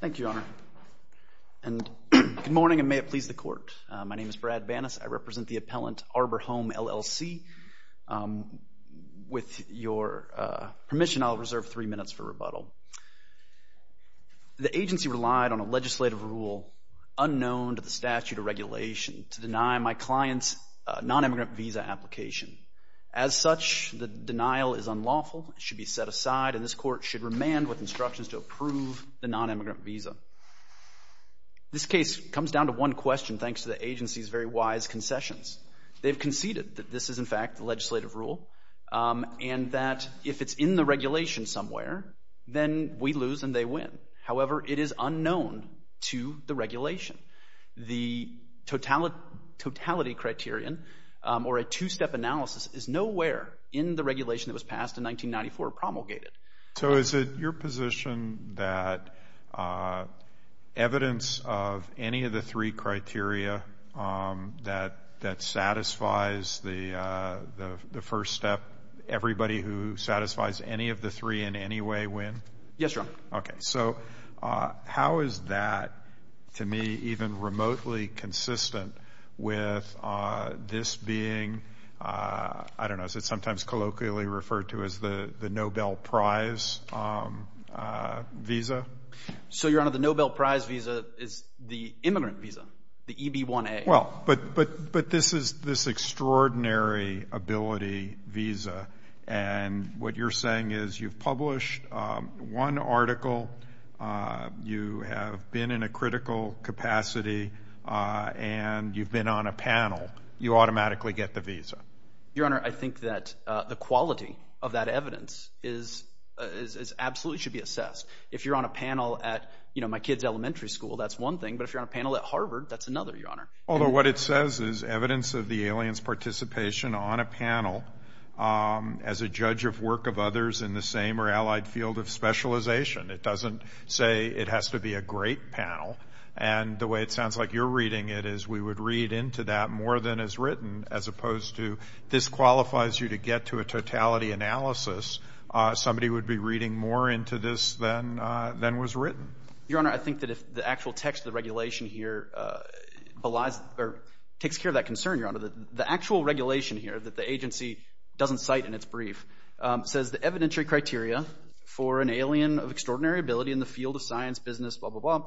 Thank you, Your Honor. Good morning, and may it please the Court. My name is Brad Banas. I represent the appellant, Arbor Home, LLC. With your permission, I'll reserve three minutes for rebuttal. The agency relied on a legislative rule unknown to the statute of regulation to deny my client's non-immigrant visa application. As such, the denial is unlawful. It should be set aside, and this Court should remand with instructions to approve the non-immigrant visa. This case comes down to one question, thanks to the agency's very wise concessions. They've conceded that this is, in fact, the legislative rule and that if it's in the regulation somewhere, then we lose and they win. However, it is unknown to the regulation. The totality criterion, or a two-step analysis, is nowhere in the regulation that was passed in 1994 promulgated. So is it your position that evidence of any of the three criteria that satisfies the first step, everybody who satisfies any of the three in any way win? Yes, Your Honor. Okay. So how is that, to me, even remotely consistent with this being, I don't know, is it sometimes colloquially referred to as the Nobel Prize visa? So, Your Honor, the Nobel Prize visa is the immigrant visa, the EB-1A. But this is this extraordinary ability visa, and what you're saying is you've published one article, you have been in a critical capacity, and you've been on a panel. You automatically get the visa. Your Honor, I think that the quality of that evidence absolutely should be assessed. If you're on a panel at my kid's elementary school, that's one thing, but if you're on a panel at Harvard, that's another, Your Honor. Although what it says is evidence of the alien's participation on a panel as a judge of work of others in the same or allied field of specialization. It doesn't say it has to be a great panel, and the way it sounds like you're reading it is we would read into that more than is written, as opposed to this qualifies you to get to a totality analysis. Somebody would be reading more into this than was written. Your Honor, I think that if the actual text of the regulation here belies or takes care of that concern, Your Honor, the actual regulation here that the agency doesn't cite in its brief says the evidentiary criteria for an alien of extraordinary ability in the field of science, business, blah, blah, blah.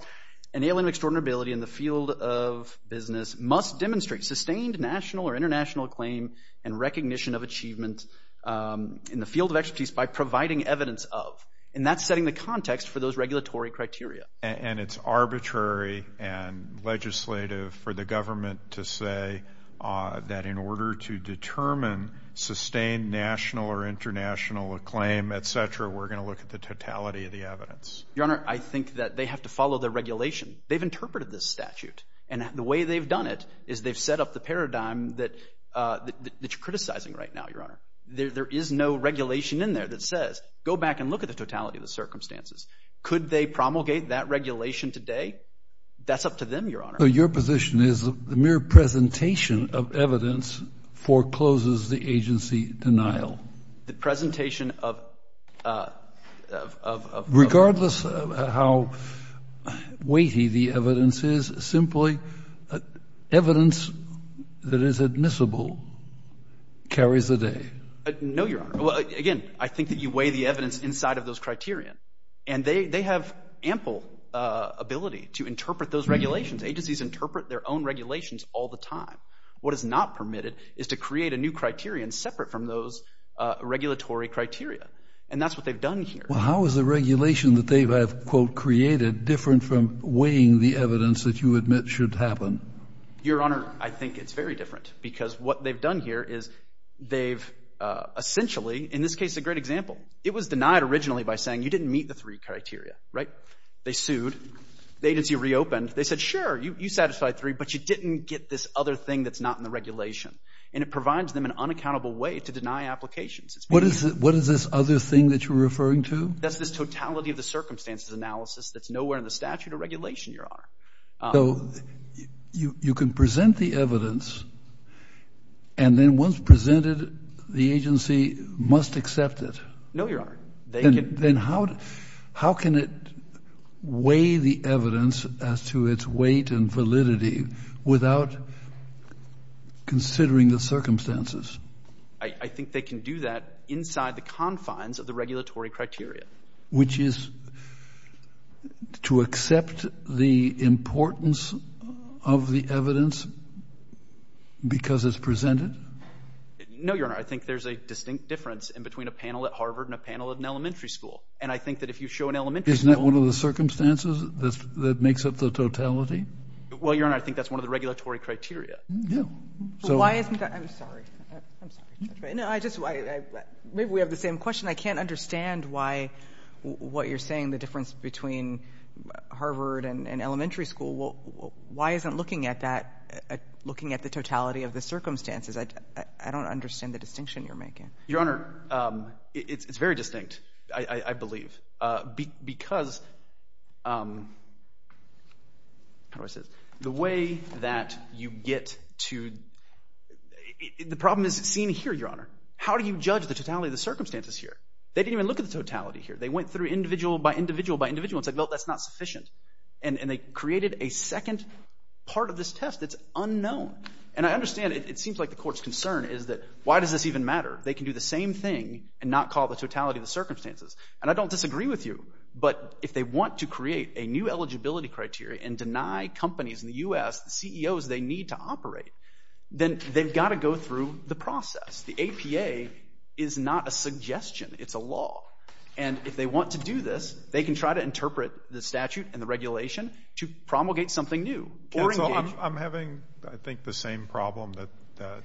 An alien of extraordinary ability in the field of business must demonstrate sustained national or international acclaim and recognition of achievement in the field of expertise by providing evidence of, and that's setting the context for those regulatory criteria. And it's arbitrary and legislative for the government to say that in order to determine sustained national or international acclaim, et cetera, we're going to look at the totality of the evidence. Your Honor, I think that they have to follow the regulation. They've interpreted this statute, and the way they've done it is they've set up the paradigm that you're criticizing right now, Your Honor. There is no regulation in there that says go back and look at the totality of the circumstances. Could they promulgate that regulation today? That's up to them, Your Honor. So your position is the mere presentation of evidence forecloses the agency denial? The presentation of ---- Regardless of how weighty the evidence is, simply evidence that is admissible carries the day. No, Your Honor. Again, I think that you weigh the evidence inside of those criteria, and they have ample ability to interpret those regulations. Agencies interpret their own regulations all the time. What is not permitted is to create a new criterion separate from those regulatory criteria, and that's what they've done here. Well, how is the regulation that they have, quote, created different from weighing the evidence that you admit should happen? Your Honor, I think it's very different because what they've done here is they've essentially, in this case, a great example. It was denied originally by saying you didn't meet the three criteria, right? They sued. The agency reopened. They said, sure, you satisfied three, but you didn't get this other thing that's not in the regulation, and it provides them an unaccountable way to deny applications. What is this other thing that you're referring to? That's this totality of the circumstances analysis that's nowhere in the statute or regulation, Your Honor. So you can present the evidence, and then once presented, the agency must accept it? No, Your Honor. Then how can it weigh the evidence as to its weight and validity without considering the circumstances? I think they can do that inside the confines of the regulatory criteria. Which is to accept the importance of the evidence because it's presented? No, Your Honor. I think there's a distinct difference in between a panel at Harvard and a panel at an elementary school, and I think that if you show an elementary school— Isn't that one of the circumstances that makes up the totality? Well, Your Honor, I think that's one of the regulatory criteria. I'm sorry. Maybe we have the same question. I can't understand what you're saying, the difference between Harvard and an elementary school. Why isn't looking at the totality of the circumstances? I don't understand the distinction you're making. Your Honor, it's very distinct, I believe, because the way that you get to—the problem is seen here, Your Honor. How do you judge the totality of the circumstances here? They didn't even look at the totality here. They went through individual by individual by individual and said, well, that's not sufficient. And they created a second part of this test that's unknown. And I understand it seems like the court's concern is that why does this even matter? They can do the same thing and not call it the totality of the circumstances. And I don't disagree with you. But if they want to create a new eligibility criteria and deny companies in the U.S., the CEOs they need to operate, then they've got to go through the process. The APA is not a suggestion. It's a law. And if they want to do this, they can try to interpret the statute and the regulation to promulgate something new. Counsel, I'm having, I think, the same problem that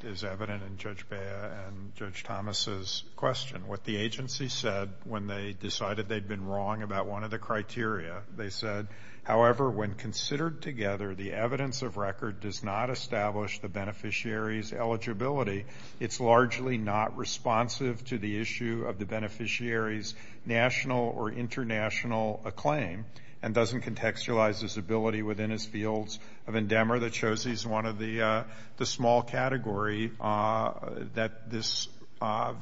is evident in Judge Bea and Judge Thomas' question. What the agency said when they decided they'd been wrong about one of the criteria, they said, however, when considered together, the evidence of record does not establish the beneficiary's eligibility. It's largely not responsive to the issue of the beneficiary's national or international acclaim and doesn't contextualize his ability within his fields of endeavor. There's one more that shows he's one of the small category that this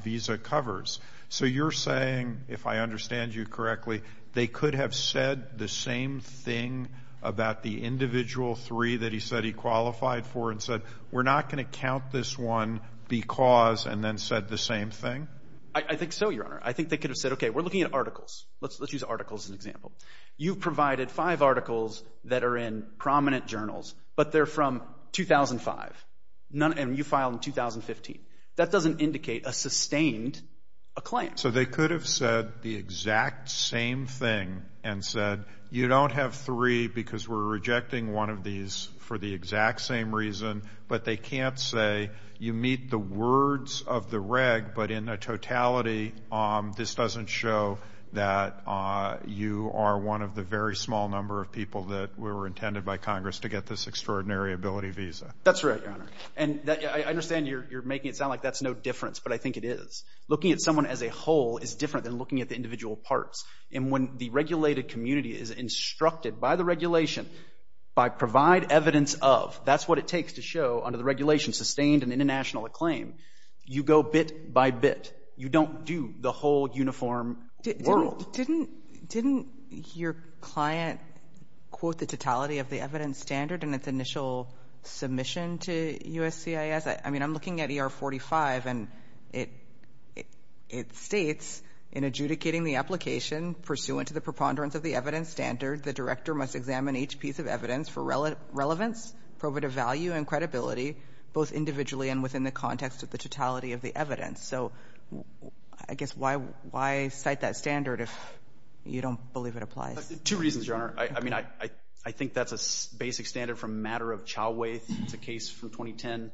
visa covers. So you're saying, if I understand you correctly, they could have said the same thing about the individual three that he said he qualified for and said we're not going to count this one because and then said the same thing? I think so, Your Honor. I think they could have said, okay, we're looking at articles. Let's use articles as an example. You've provided five articles that are in prominent journals, but they're from 2005, and you filed in 2015. That doesn't indicate a sustained acclaim. So they could have said the exact same thing and said, you don't have three because we're rejecting one of these for the exact same reason, but they can't say you meet the words of the reg, but in a totality, this doesn't show that you are one of the very small number of people that were intended by Congress to get this extraordinary ability visa. That's right, Your Honor. And I understand you're making it sound like that's no difference, but I think it is. Looking at someone as a whole is different than looking at the individual parts. And when the regulated community is instructed by the regulation by provide evidence of, that's what it takes to show under the regulation sustained and international acclaim. You go bit by bit. You don't do the whole uniform world. Didn't your client quote the totality of the evidence standard in its initial submission to USCIS? I mean, I'm looking at ER 45, and it states, in adjudicating the application pursuant to the preponderance of the evidence standard, the director must examine each piece of evidence for relevance, probative value, and credibility, both individually and within the context of the totality of the evidence. So I guess why cite that standard if you don't believe it applies? Two reasons, Your Honor. I mean, I think that's a basic standard from a matter of chow ways. It's a case from 2010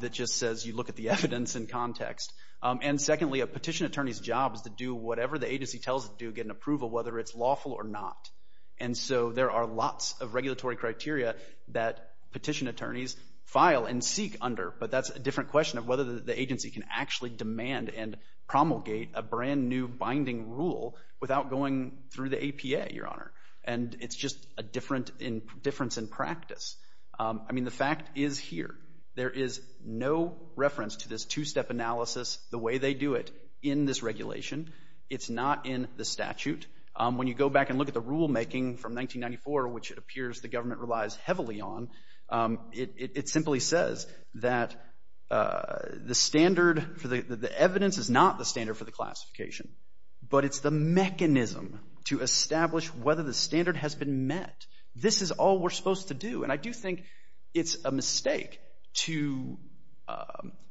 that just says you look at the evidence in context. And secondly, a petition attorney's job is to do whatever the agency tells it to do, get an approval, whether it's lawful or not. And so there are lots of regulatory criteria that petition attorneys file and seek under, but that's a different question of whether the agency can actually demand and promulgate a brand-new binding rule without going through the APA, Your Honor. And it's just a difference in practice. I mean, the fact is here, there is no reference to this two-step analysis, the way they do it, in this regulation. It's not in the statute. When you go back and look at the rulemaking from 1994, which it appears the government relies heavily on, it simply says that the standard for the evidence is not the standard for the classification, but it's the mechanism to establish whether the standard has been met. This is all we're supposed to do. And I do think it's a mistake to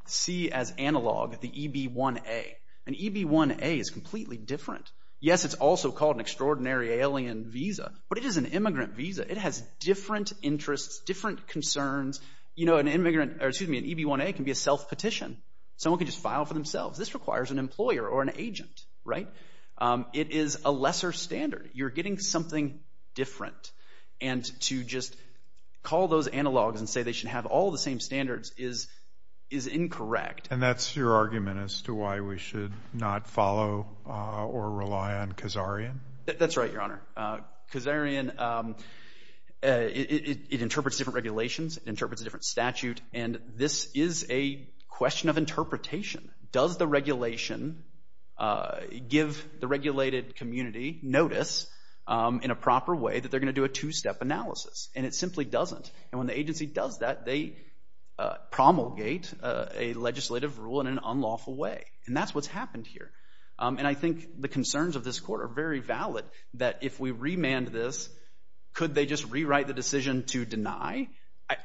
see as analog the EB-1A. An EB-1A is completely different. Yes, it's also called an extraordinary alien visa, but it is an immigrant visa. It has different interests, different concerns. You know, an immigrant or, excuse me, an EB-1A can be a self-petition. Someone can just file for themselves. This requires an employer or an agent, right? It is a lesser standard. You're getting something different. And to just call those analogs and say they should have all the same standards is incorrect. And that's your argument as to why we should not follow or rely on Kazarian? That's right, Your Honor. Kazarian, it interprets different regulations. It interprets a different statute. And this is a question of interpretation. Does the regulation give the regulated community notice in a proper way that they're going to do a two-step analysis? And it simply doesn't. And when the agency does that, they promulgate a legislative rule in an unlawful way. And that's what's happened here. And I think the concerns of this court are very valid that if we remand this, could they just rewrite the decision to deny?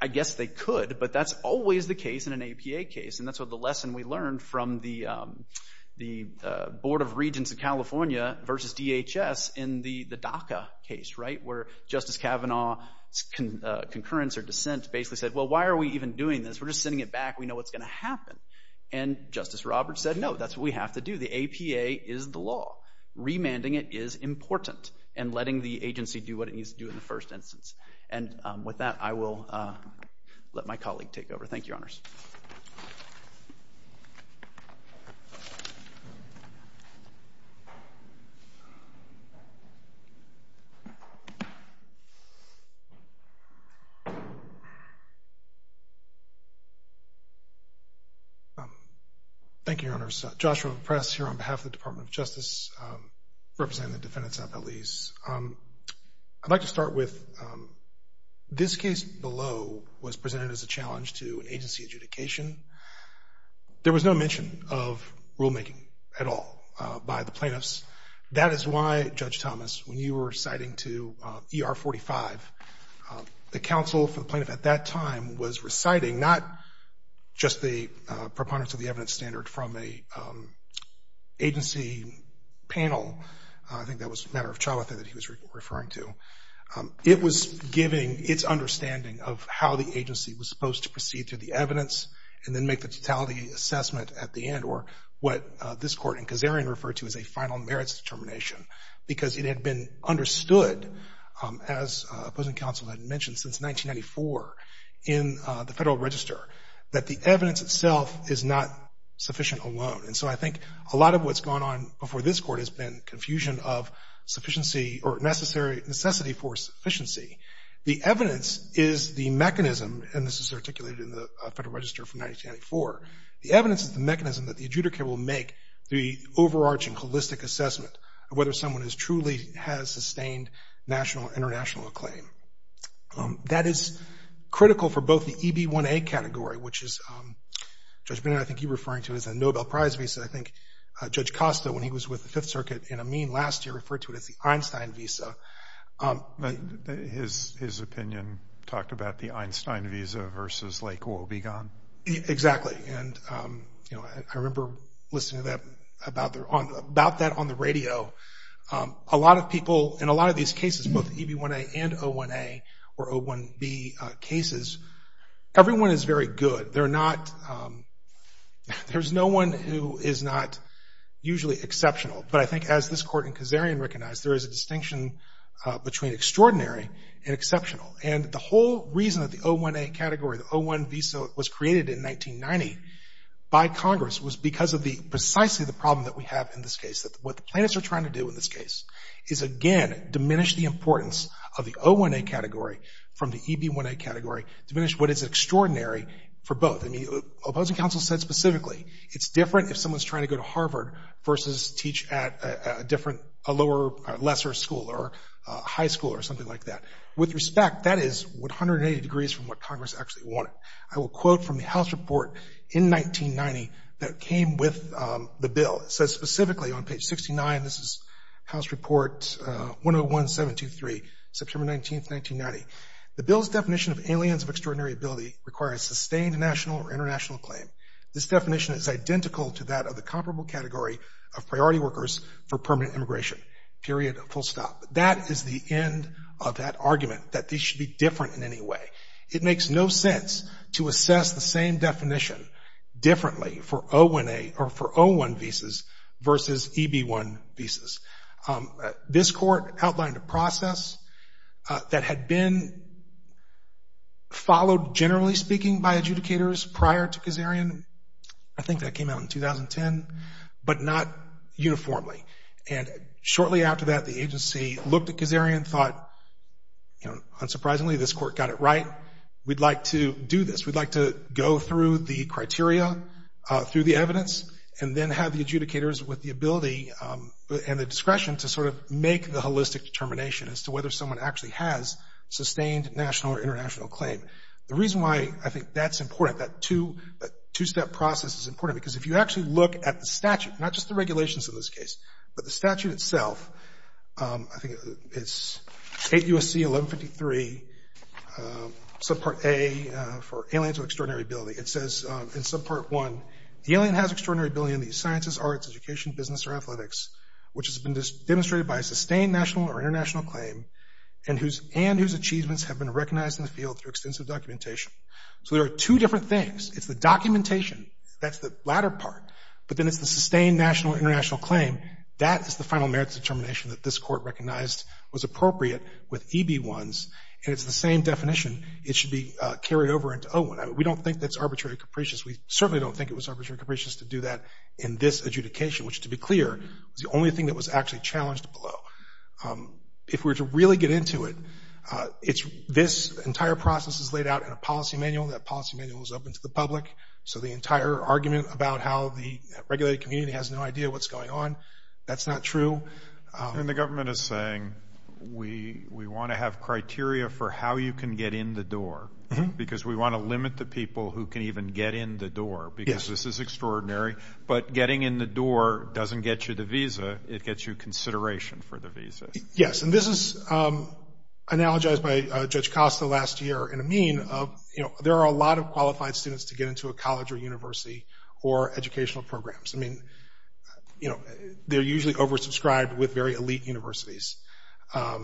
I guess they could, but that's always the case in an APA case. And that's what the lesson we learned from the Board of Regents of California versus DHS in the DACA case, right, where Justice Kavanaugh's concurrence or dissent basically said, well, why are we even doing this? We're just sending it back. We know what's going to happen. And Justice Roberts said, no, that's what we have to do. The APA is the law. Remanding it is important and letting the agency do what it needs to do in the first instance. And with that, I will let my colleague take over. Thank you, Your Honors. Thank you, Your Honors. Josh from the press here on behalf of the Department of Justice representing the defendants and appellees. I'd like to start with this case below was presented as a challenge to an agency adjudication. There was no mention of rulemaking at all by the plaintiffs. That is why, Judge Thomas, when you were reciting to ER 45, the counsel for the plaintiff at that time was reciting, not just the preponderance of the evidence standard from an agency panel. I think that was a matter of trial, I think, that he was referring to. It was giving its understanding of how the agency was supposed to proceed to the evidence and then make the totality assessment at the end or what this court in Kazarian referred to as a final merits determination because it had been understood, as opposing counsel had mentioned, since 1994 in the Federal Register, that the evidence itself is not sufficient alone. And so I think a lot of what's gone on before this court has been confusion of necessity for sufficiency. The evidence is the mechanism, and this is articulated in the Federal Register from 1994, the evidence is the mechanism that the adjudicator will make the overarching holistic assessment, whether someone truly has sustained national or international acclaim. That is critical for both the EB1A category, which is, Judge Bennett, I think you're referring to as a Nobel Prize visa. I think Judge Costa, when he was with the Fifth Circuit in Amin last year, referred to it as the Einstein visa. His opinion talked about the Einstein visa versus Lake Wobegon. Exactly. And, you know, I remember listening to that, about that on the radio. A lot of people in a lot of these cases, both EB1A and O1A or O1B cases, everyone is very good. They're not, there's no one who is not usually exceptional. But I think as this court in Kazarian recognized, there is a distinction between extraordinary and exceptional. And the whole reason that the O1A category, the O1 visa was created in 1990 by Congress was because of the, precisely the problem that we have in this case, that what the plaintiffs are trying to do in this case is, again, diminish the importance of the O1A category from the EB1A category, diminish what is extraordinary for both. I mean, opposing counsel said specifically it's different if someone's trying to go to Harvard versus teach at a different, a lower, lesser school or high school or something like that. With respect, that is 180 degrees from what Congress actually wanted. I will quote from the House report in 1990 that came with the bill. It says specifically on page 69, this is House Report 101723, September 19, 1990. The bill's definition of aliens of extraordinary ability requires sustained national or international acclaim. This definition is identical to that of the comparable category of priority workers for permanent immigration, period, full stop. That is the end of that argument, that these should be different in any way. It makes no sense to assess the same definition differently for O1A or for O1 visas versus EB1 visas. This court outlined a process that had been followed, generally speaking, by adjudicators prior to Kazarian. I think that came out in 2010, but not uniformly. Shortly after that, the agency looked at Kazarian and thought, unsurprisingly, this court got it right. We'd like to do this. We'd like to go through the criteria, through the evidence, and then have the adjudicators with the ability and the discretion to sort of make the holistic determination as to whether someone actually has sustained national or international acclaim. The reason why I think that's important, that two-step process is important, because if you actually look at the statute, not just the regulations in this case, but the statute itself, I think it's 8 U.S.C. 1153, Subpart A for Aliens with Extraordinary Ability. It says in Subpart 1, the alien has extraordinary ability in these sciences, arts, education, business, or athletics, which has been demonstrated by a sustained national or international acclaim, and whose achievements have been recognized in the field through extensive documentation. So there are two different things. It's the documentation. That's the latter part. But then it's the sustained national or international claim. That is the final merits determination that this court recognized was appropriate with EB1s, and it's the same definition. It should be carried over into O1. We don't think that's arbitrarily capricious. We certainly don't think it was arbitrarily capricious to do that in this adjudication, which, to be clear, was the only thing that was actually challenged below. If we were to really get into it, this entire process is laid out in a policy manual. That policy manual is open to the public. So the entire argument about how the regulated community has no idea what's going on, that's not true. And the government is saying, we want to have criteria for how you can get in the door, because we want to limit the people who can even get in the door, because this is extraordinary. But getting in the door doesn't get you the visa. It gets you consideration for the visa. Yes, and this is analogized by Judge Costa last year in a mean of, you know, there are a lot of qualified students to get into a college or university or educational programs. I mean, you know, they're usually oversubscribed with very elite universities. I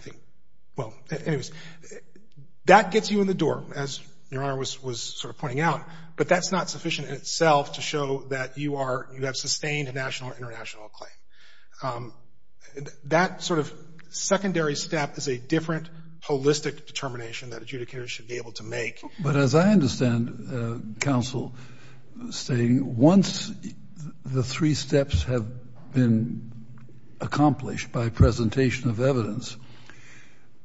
think, well, anyways, that gets you in the door, as Your Honor was sort of pointing out. But that's not sufficient in itself to show that you have sustained a national or international claim. That sort of secondary step is a different holistic determination that adjudicators should be able to make. But as I understand, counsel, saying once the three steps have been accomplished by presentation of evidence,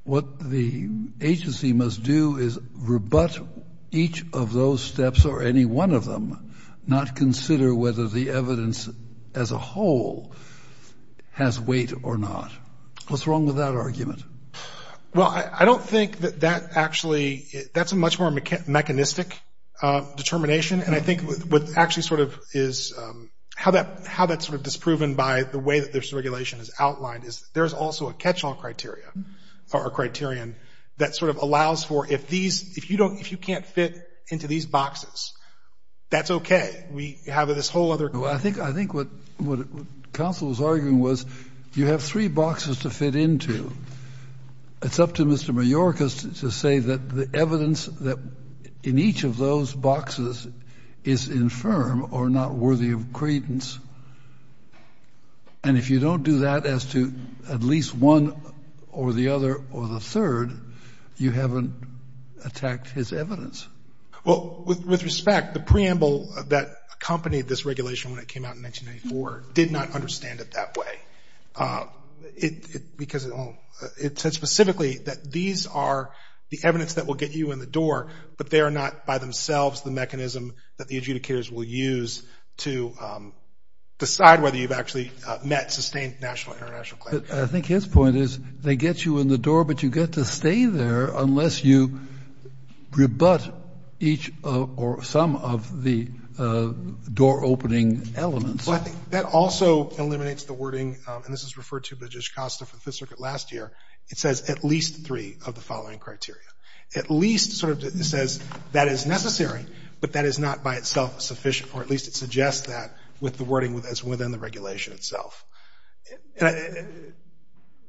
what the agency must do is rebut each of those steps or any one of them, not consider whether the evidence as a whole has weight or not. What's wrong with that argument? Well, I don't think that that actually – that's a much more mechanistic determination. And I think what actually sort of is – how that's sort of disproven by the way that this regulation is outlined is there is also a catch-all criteria or a criterion that sort of allows for if these – if you don't – if you can't fit into these boxes, that's okay. We have this whole other – Well, I think what counsel was arguing was you have three boxes to fit into. It's up to Mr. Majorca to say that the evidence in each of those boxes is infirm or not worthy of credence. And if you don't do that as to at least one or the other or the third, you haven't attacked his evidence. Well, with respect, the preamble that accompanied this regulation when it came out in 1994 did not understand it that way. Because it said specifically that these are the evidence that will get you in the door, but they are not by themselves the mechanism that the adjudicators will use to decide whether you've actually met, sustained national or international clarity. I think his point is they get you in the door, but you get to stay there unless you rebut each or some of the door-opening elements. Well, I think that also eliminates the wording – and this is referred to by Judge Costa for the Fifth Circuit last year. It says at least three of the following criteria. At least sort of says that is necessary, but that is not by itself sufficient, or at least it suggests that with the wording that's within the regulation itself.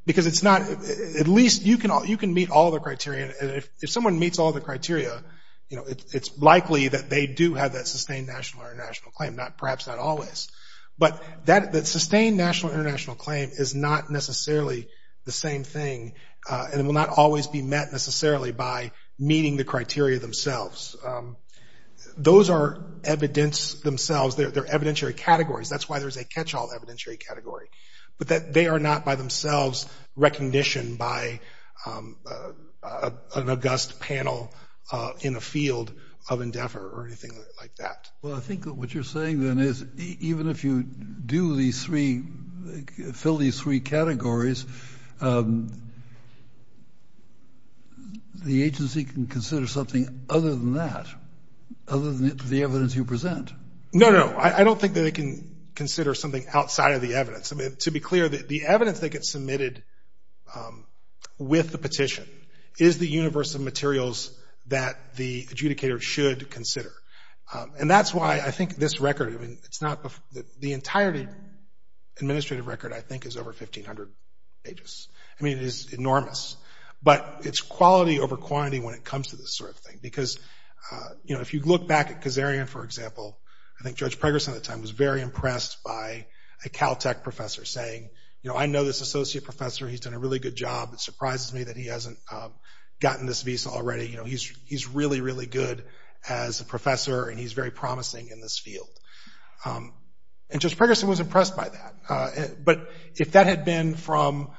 Because it's not – at least you can meet all the criteria, and if someone meets all the criteria, you know, it's likely that they do have that sustained national or international claim, perhaps not always. But that sustained national or international claim is not necessarily the same thing, and it will not always be met necessarily by meeting the criteria themselves. Those are evidence themselves. They're evidentiary categories. That's why there's a catch-all evidentiary category, but they are not by themselves recognition by an august panel in the field of endeavor or anything like that. Well, I think that what you're saying then is even if you do these three – fill these three categories, the agency can consider something other than that, other than the evidence you present. No, no, I don't think that it can consider something outside of the evidence. I mean, to be clear, the evidence that gets submitted with the petition is the universe of materials that the adjudicator should consider. And that's why I think this record, I mean, it's not – the entirety administrative record, I think, is over 1,500 pages. I mean, it is enormous. But it's quality over quantity when it comes to this sort of thing because, you know, if you look back at Kazarian, for example, I think Judge Pregerson at the time was very impressed by a Caltech professor saying, you know, I know this associate professor. He's done a really good job. It surprises me that he hasn't gotten this visa already. You know, he's really, really good as a professor, and he's very promising in this field. And Judge Pregerson was impressed by that. But if that had been from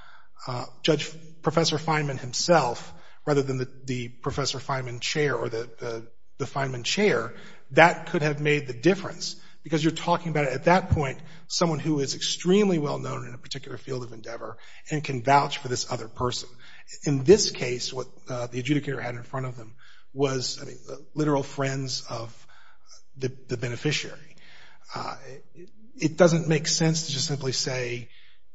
Judge Professor Feynman himself rather than the Professor Feynman chair or the Feynman chair, that could have made the difference because you're talking about at that point someone who is extremely well-known in a particular field of endeavor and can vouch for this other person. In this case, what the adjudicator had in front of them was, I mean, literal friends of the beneficiary. It doesn't make sense to just simply say,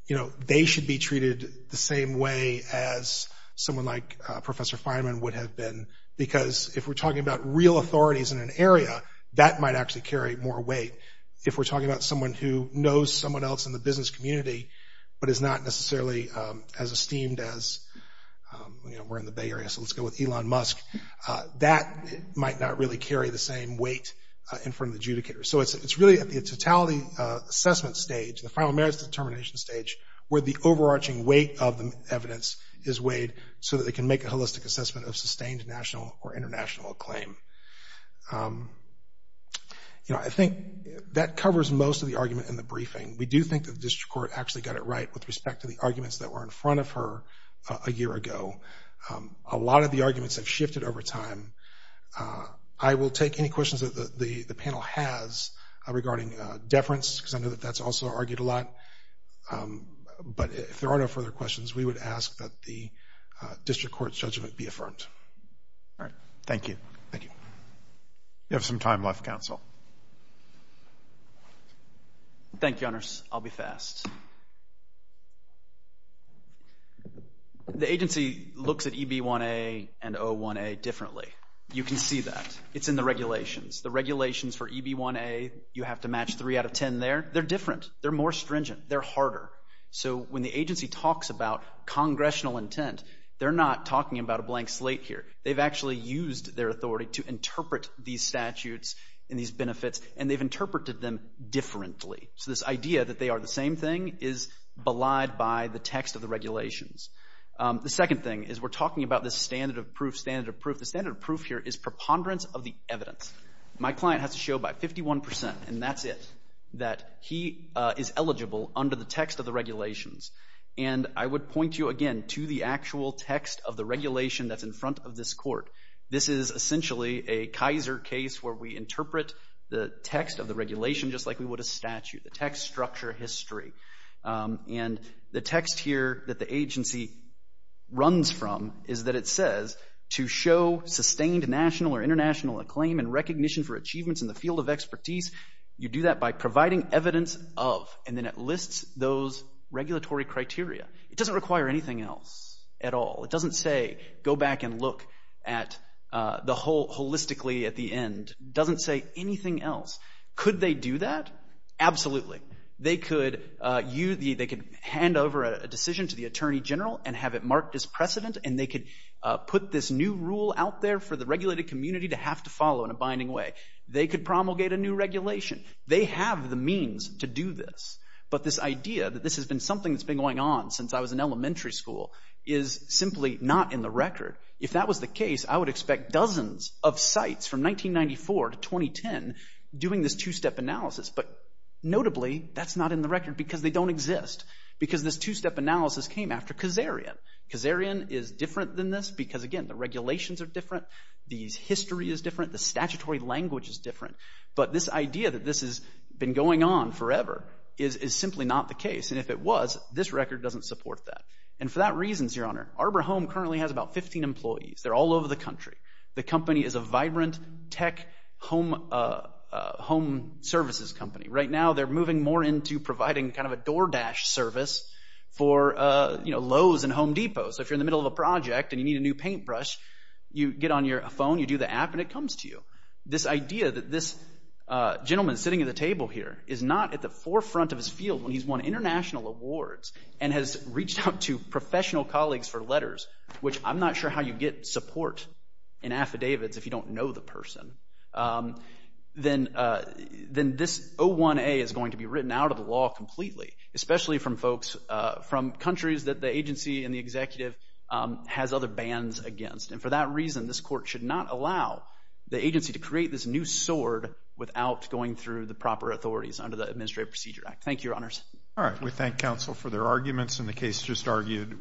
you know, they should be treated the same way as someone like Professor Feynman would have been because if we're talking about real authorities in an area, that might actually carry more weight. If we're talking about someone who knows someone else in the business community but is not necessarily as esteemed as, you know, we're in the Bay Area, so let's go with Elon Musk, that might not really carry the same weight in front of the adjudicator. So it's really at the totality assessment stage, the final merits determination stage, where the overarching weight of the evidence is weighed so that they can make a holistic assessment of sustained national or international acclaim. You know, I think that covers most of the argument in the briefing. We do think that the district court actually got it right with respect to the arguments that were in front of her a year ago. A lot of the arguments have shifted over time. I will take any questions that the panel has regarding deference because I know that that's also argued a lot. But if there are no further questions, we would ask that the district court's judgment be affirmed. All right. Thank you. Thank you. You have some time left, counsel. Thank you, honors. I'll be fast. The agency looks at EB1A and O1A differently. You can see that. It's in the regulations. The regulations for EB1A, you have to match three out of ten there. They're different. They're more stringent. They're harder. So when the agency talks about congressional intent, they're not talking about a blank slate here. They've actually used their authority to interpret these statutes and these benefits, and they've interpreted them differently. So this idea that they are the same thing is belied by the text of the regulations. The second thing is we're talking about this standard of proof, standard of proof. The standard of proof here is preponderance of the evidence. My client has to show by 51 percent, and that's it, that he is eligible under the text of the regulations. I would point you, again, to the actual text of the regulation that's in front of this court. This is essentially a Kaiser case where we interpret the text of the regulation just like we would a statute. The text structure history. The text here that the agency runs from is that it says, to show sustained national or international acclaim and recognition for achievements in the field of expertise, you do that by providing evidence of, and then it lists those regulatory criteria. It doesn't require anything else at all. It doesn't say go back and look holistically at the end. It doesn't say anything else. Could they do that? Absolutely. They could hand over a decision to the attorney general and have it marked as precedent, and they could put this new rule out there for the regulated community to have to follow in a binding way. They could promulgate a new regulation. They have the means to do this, but this idea that this has been something that's been going on since I was in elementary school is simply not in the record. If that was the case, I would expect dozens of sites from 1994 to 2010 doing this two-step analysis, but notably that's not in the record because they don't exist because this two-step analysis came after Kazarian. Kazarian is different than this because, again, the regulations are different. The history is different. The statutory language is different, but this idea that this has been going on forever is simply not the case, and if it was, this record doesn't support that, and for that reason, Your Honor, Arbor Home currently has about 15 employees. They're all over the country. The company is a vibrant tech home services company. Right now, they're moving more into providing kind of a door dash service for Lowe's and Home Depot, so if you're in the middle of a project and you need a new paintbrush, you get on your phone, you do the app, and it comes to you. This idea that this gentleman sitting at the table here is not at the forefront of his field when he's won international awards and has reached out to professional colleagues for letters, which I'm not sure how you get support in affidavits if you don't know the person, then this 01A is going to be written out of the law completely, especially from folks from countries that the agency and the executive has other bans against, and for that reason, this court should not allow the agency to create this new sword without going through the proper authorities under the Administrative Procedure Act. Thank you, Your Honors. All right. We thank counsel for their arguments, and the case just argued will be submitted.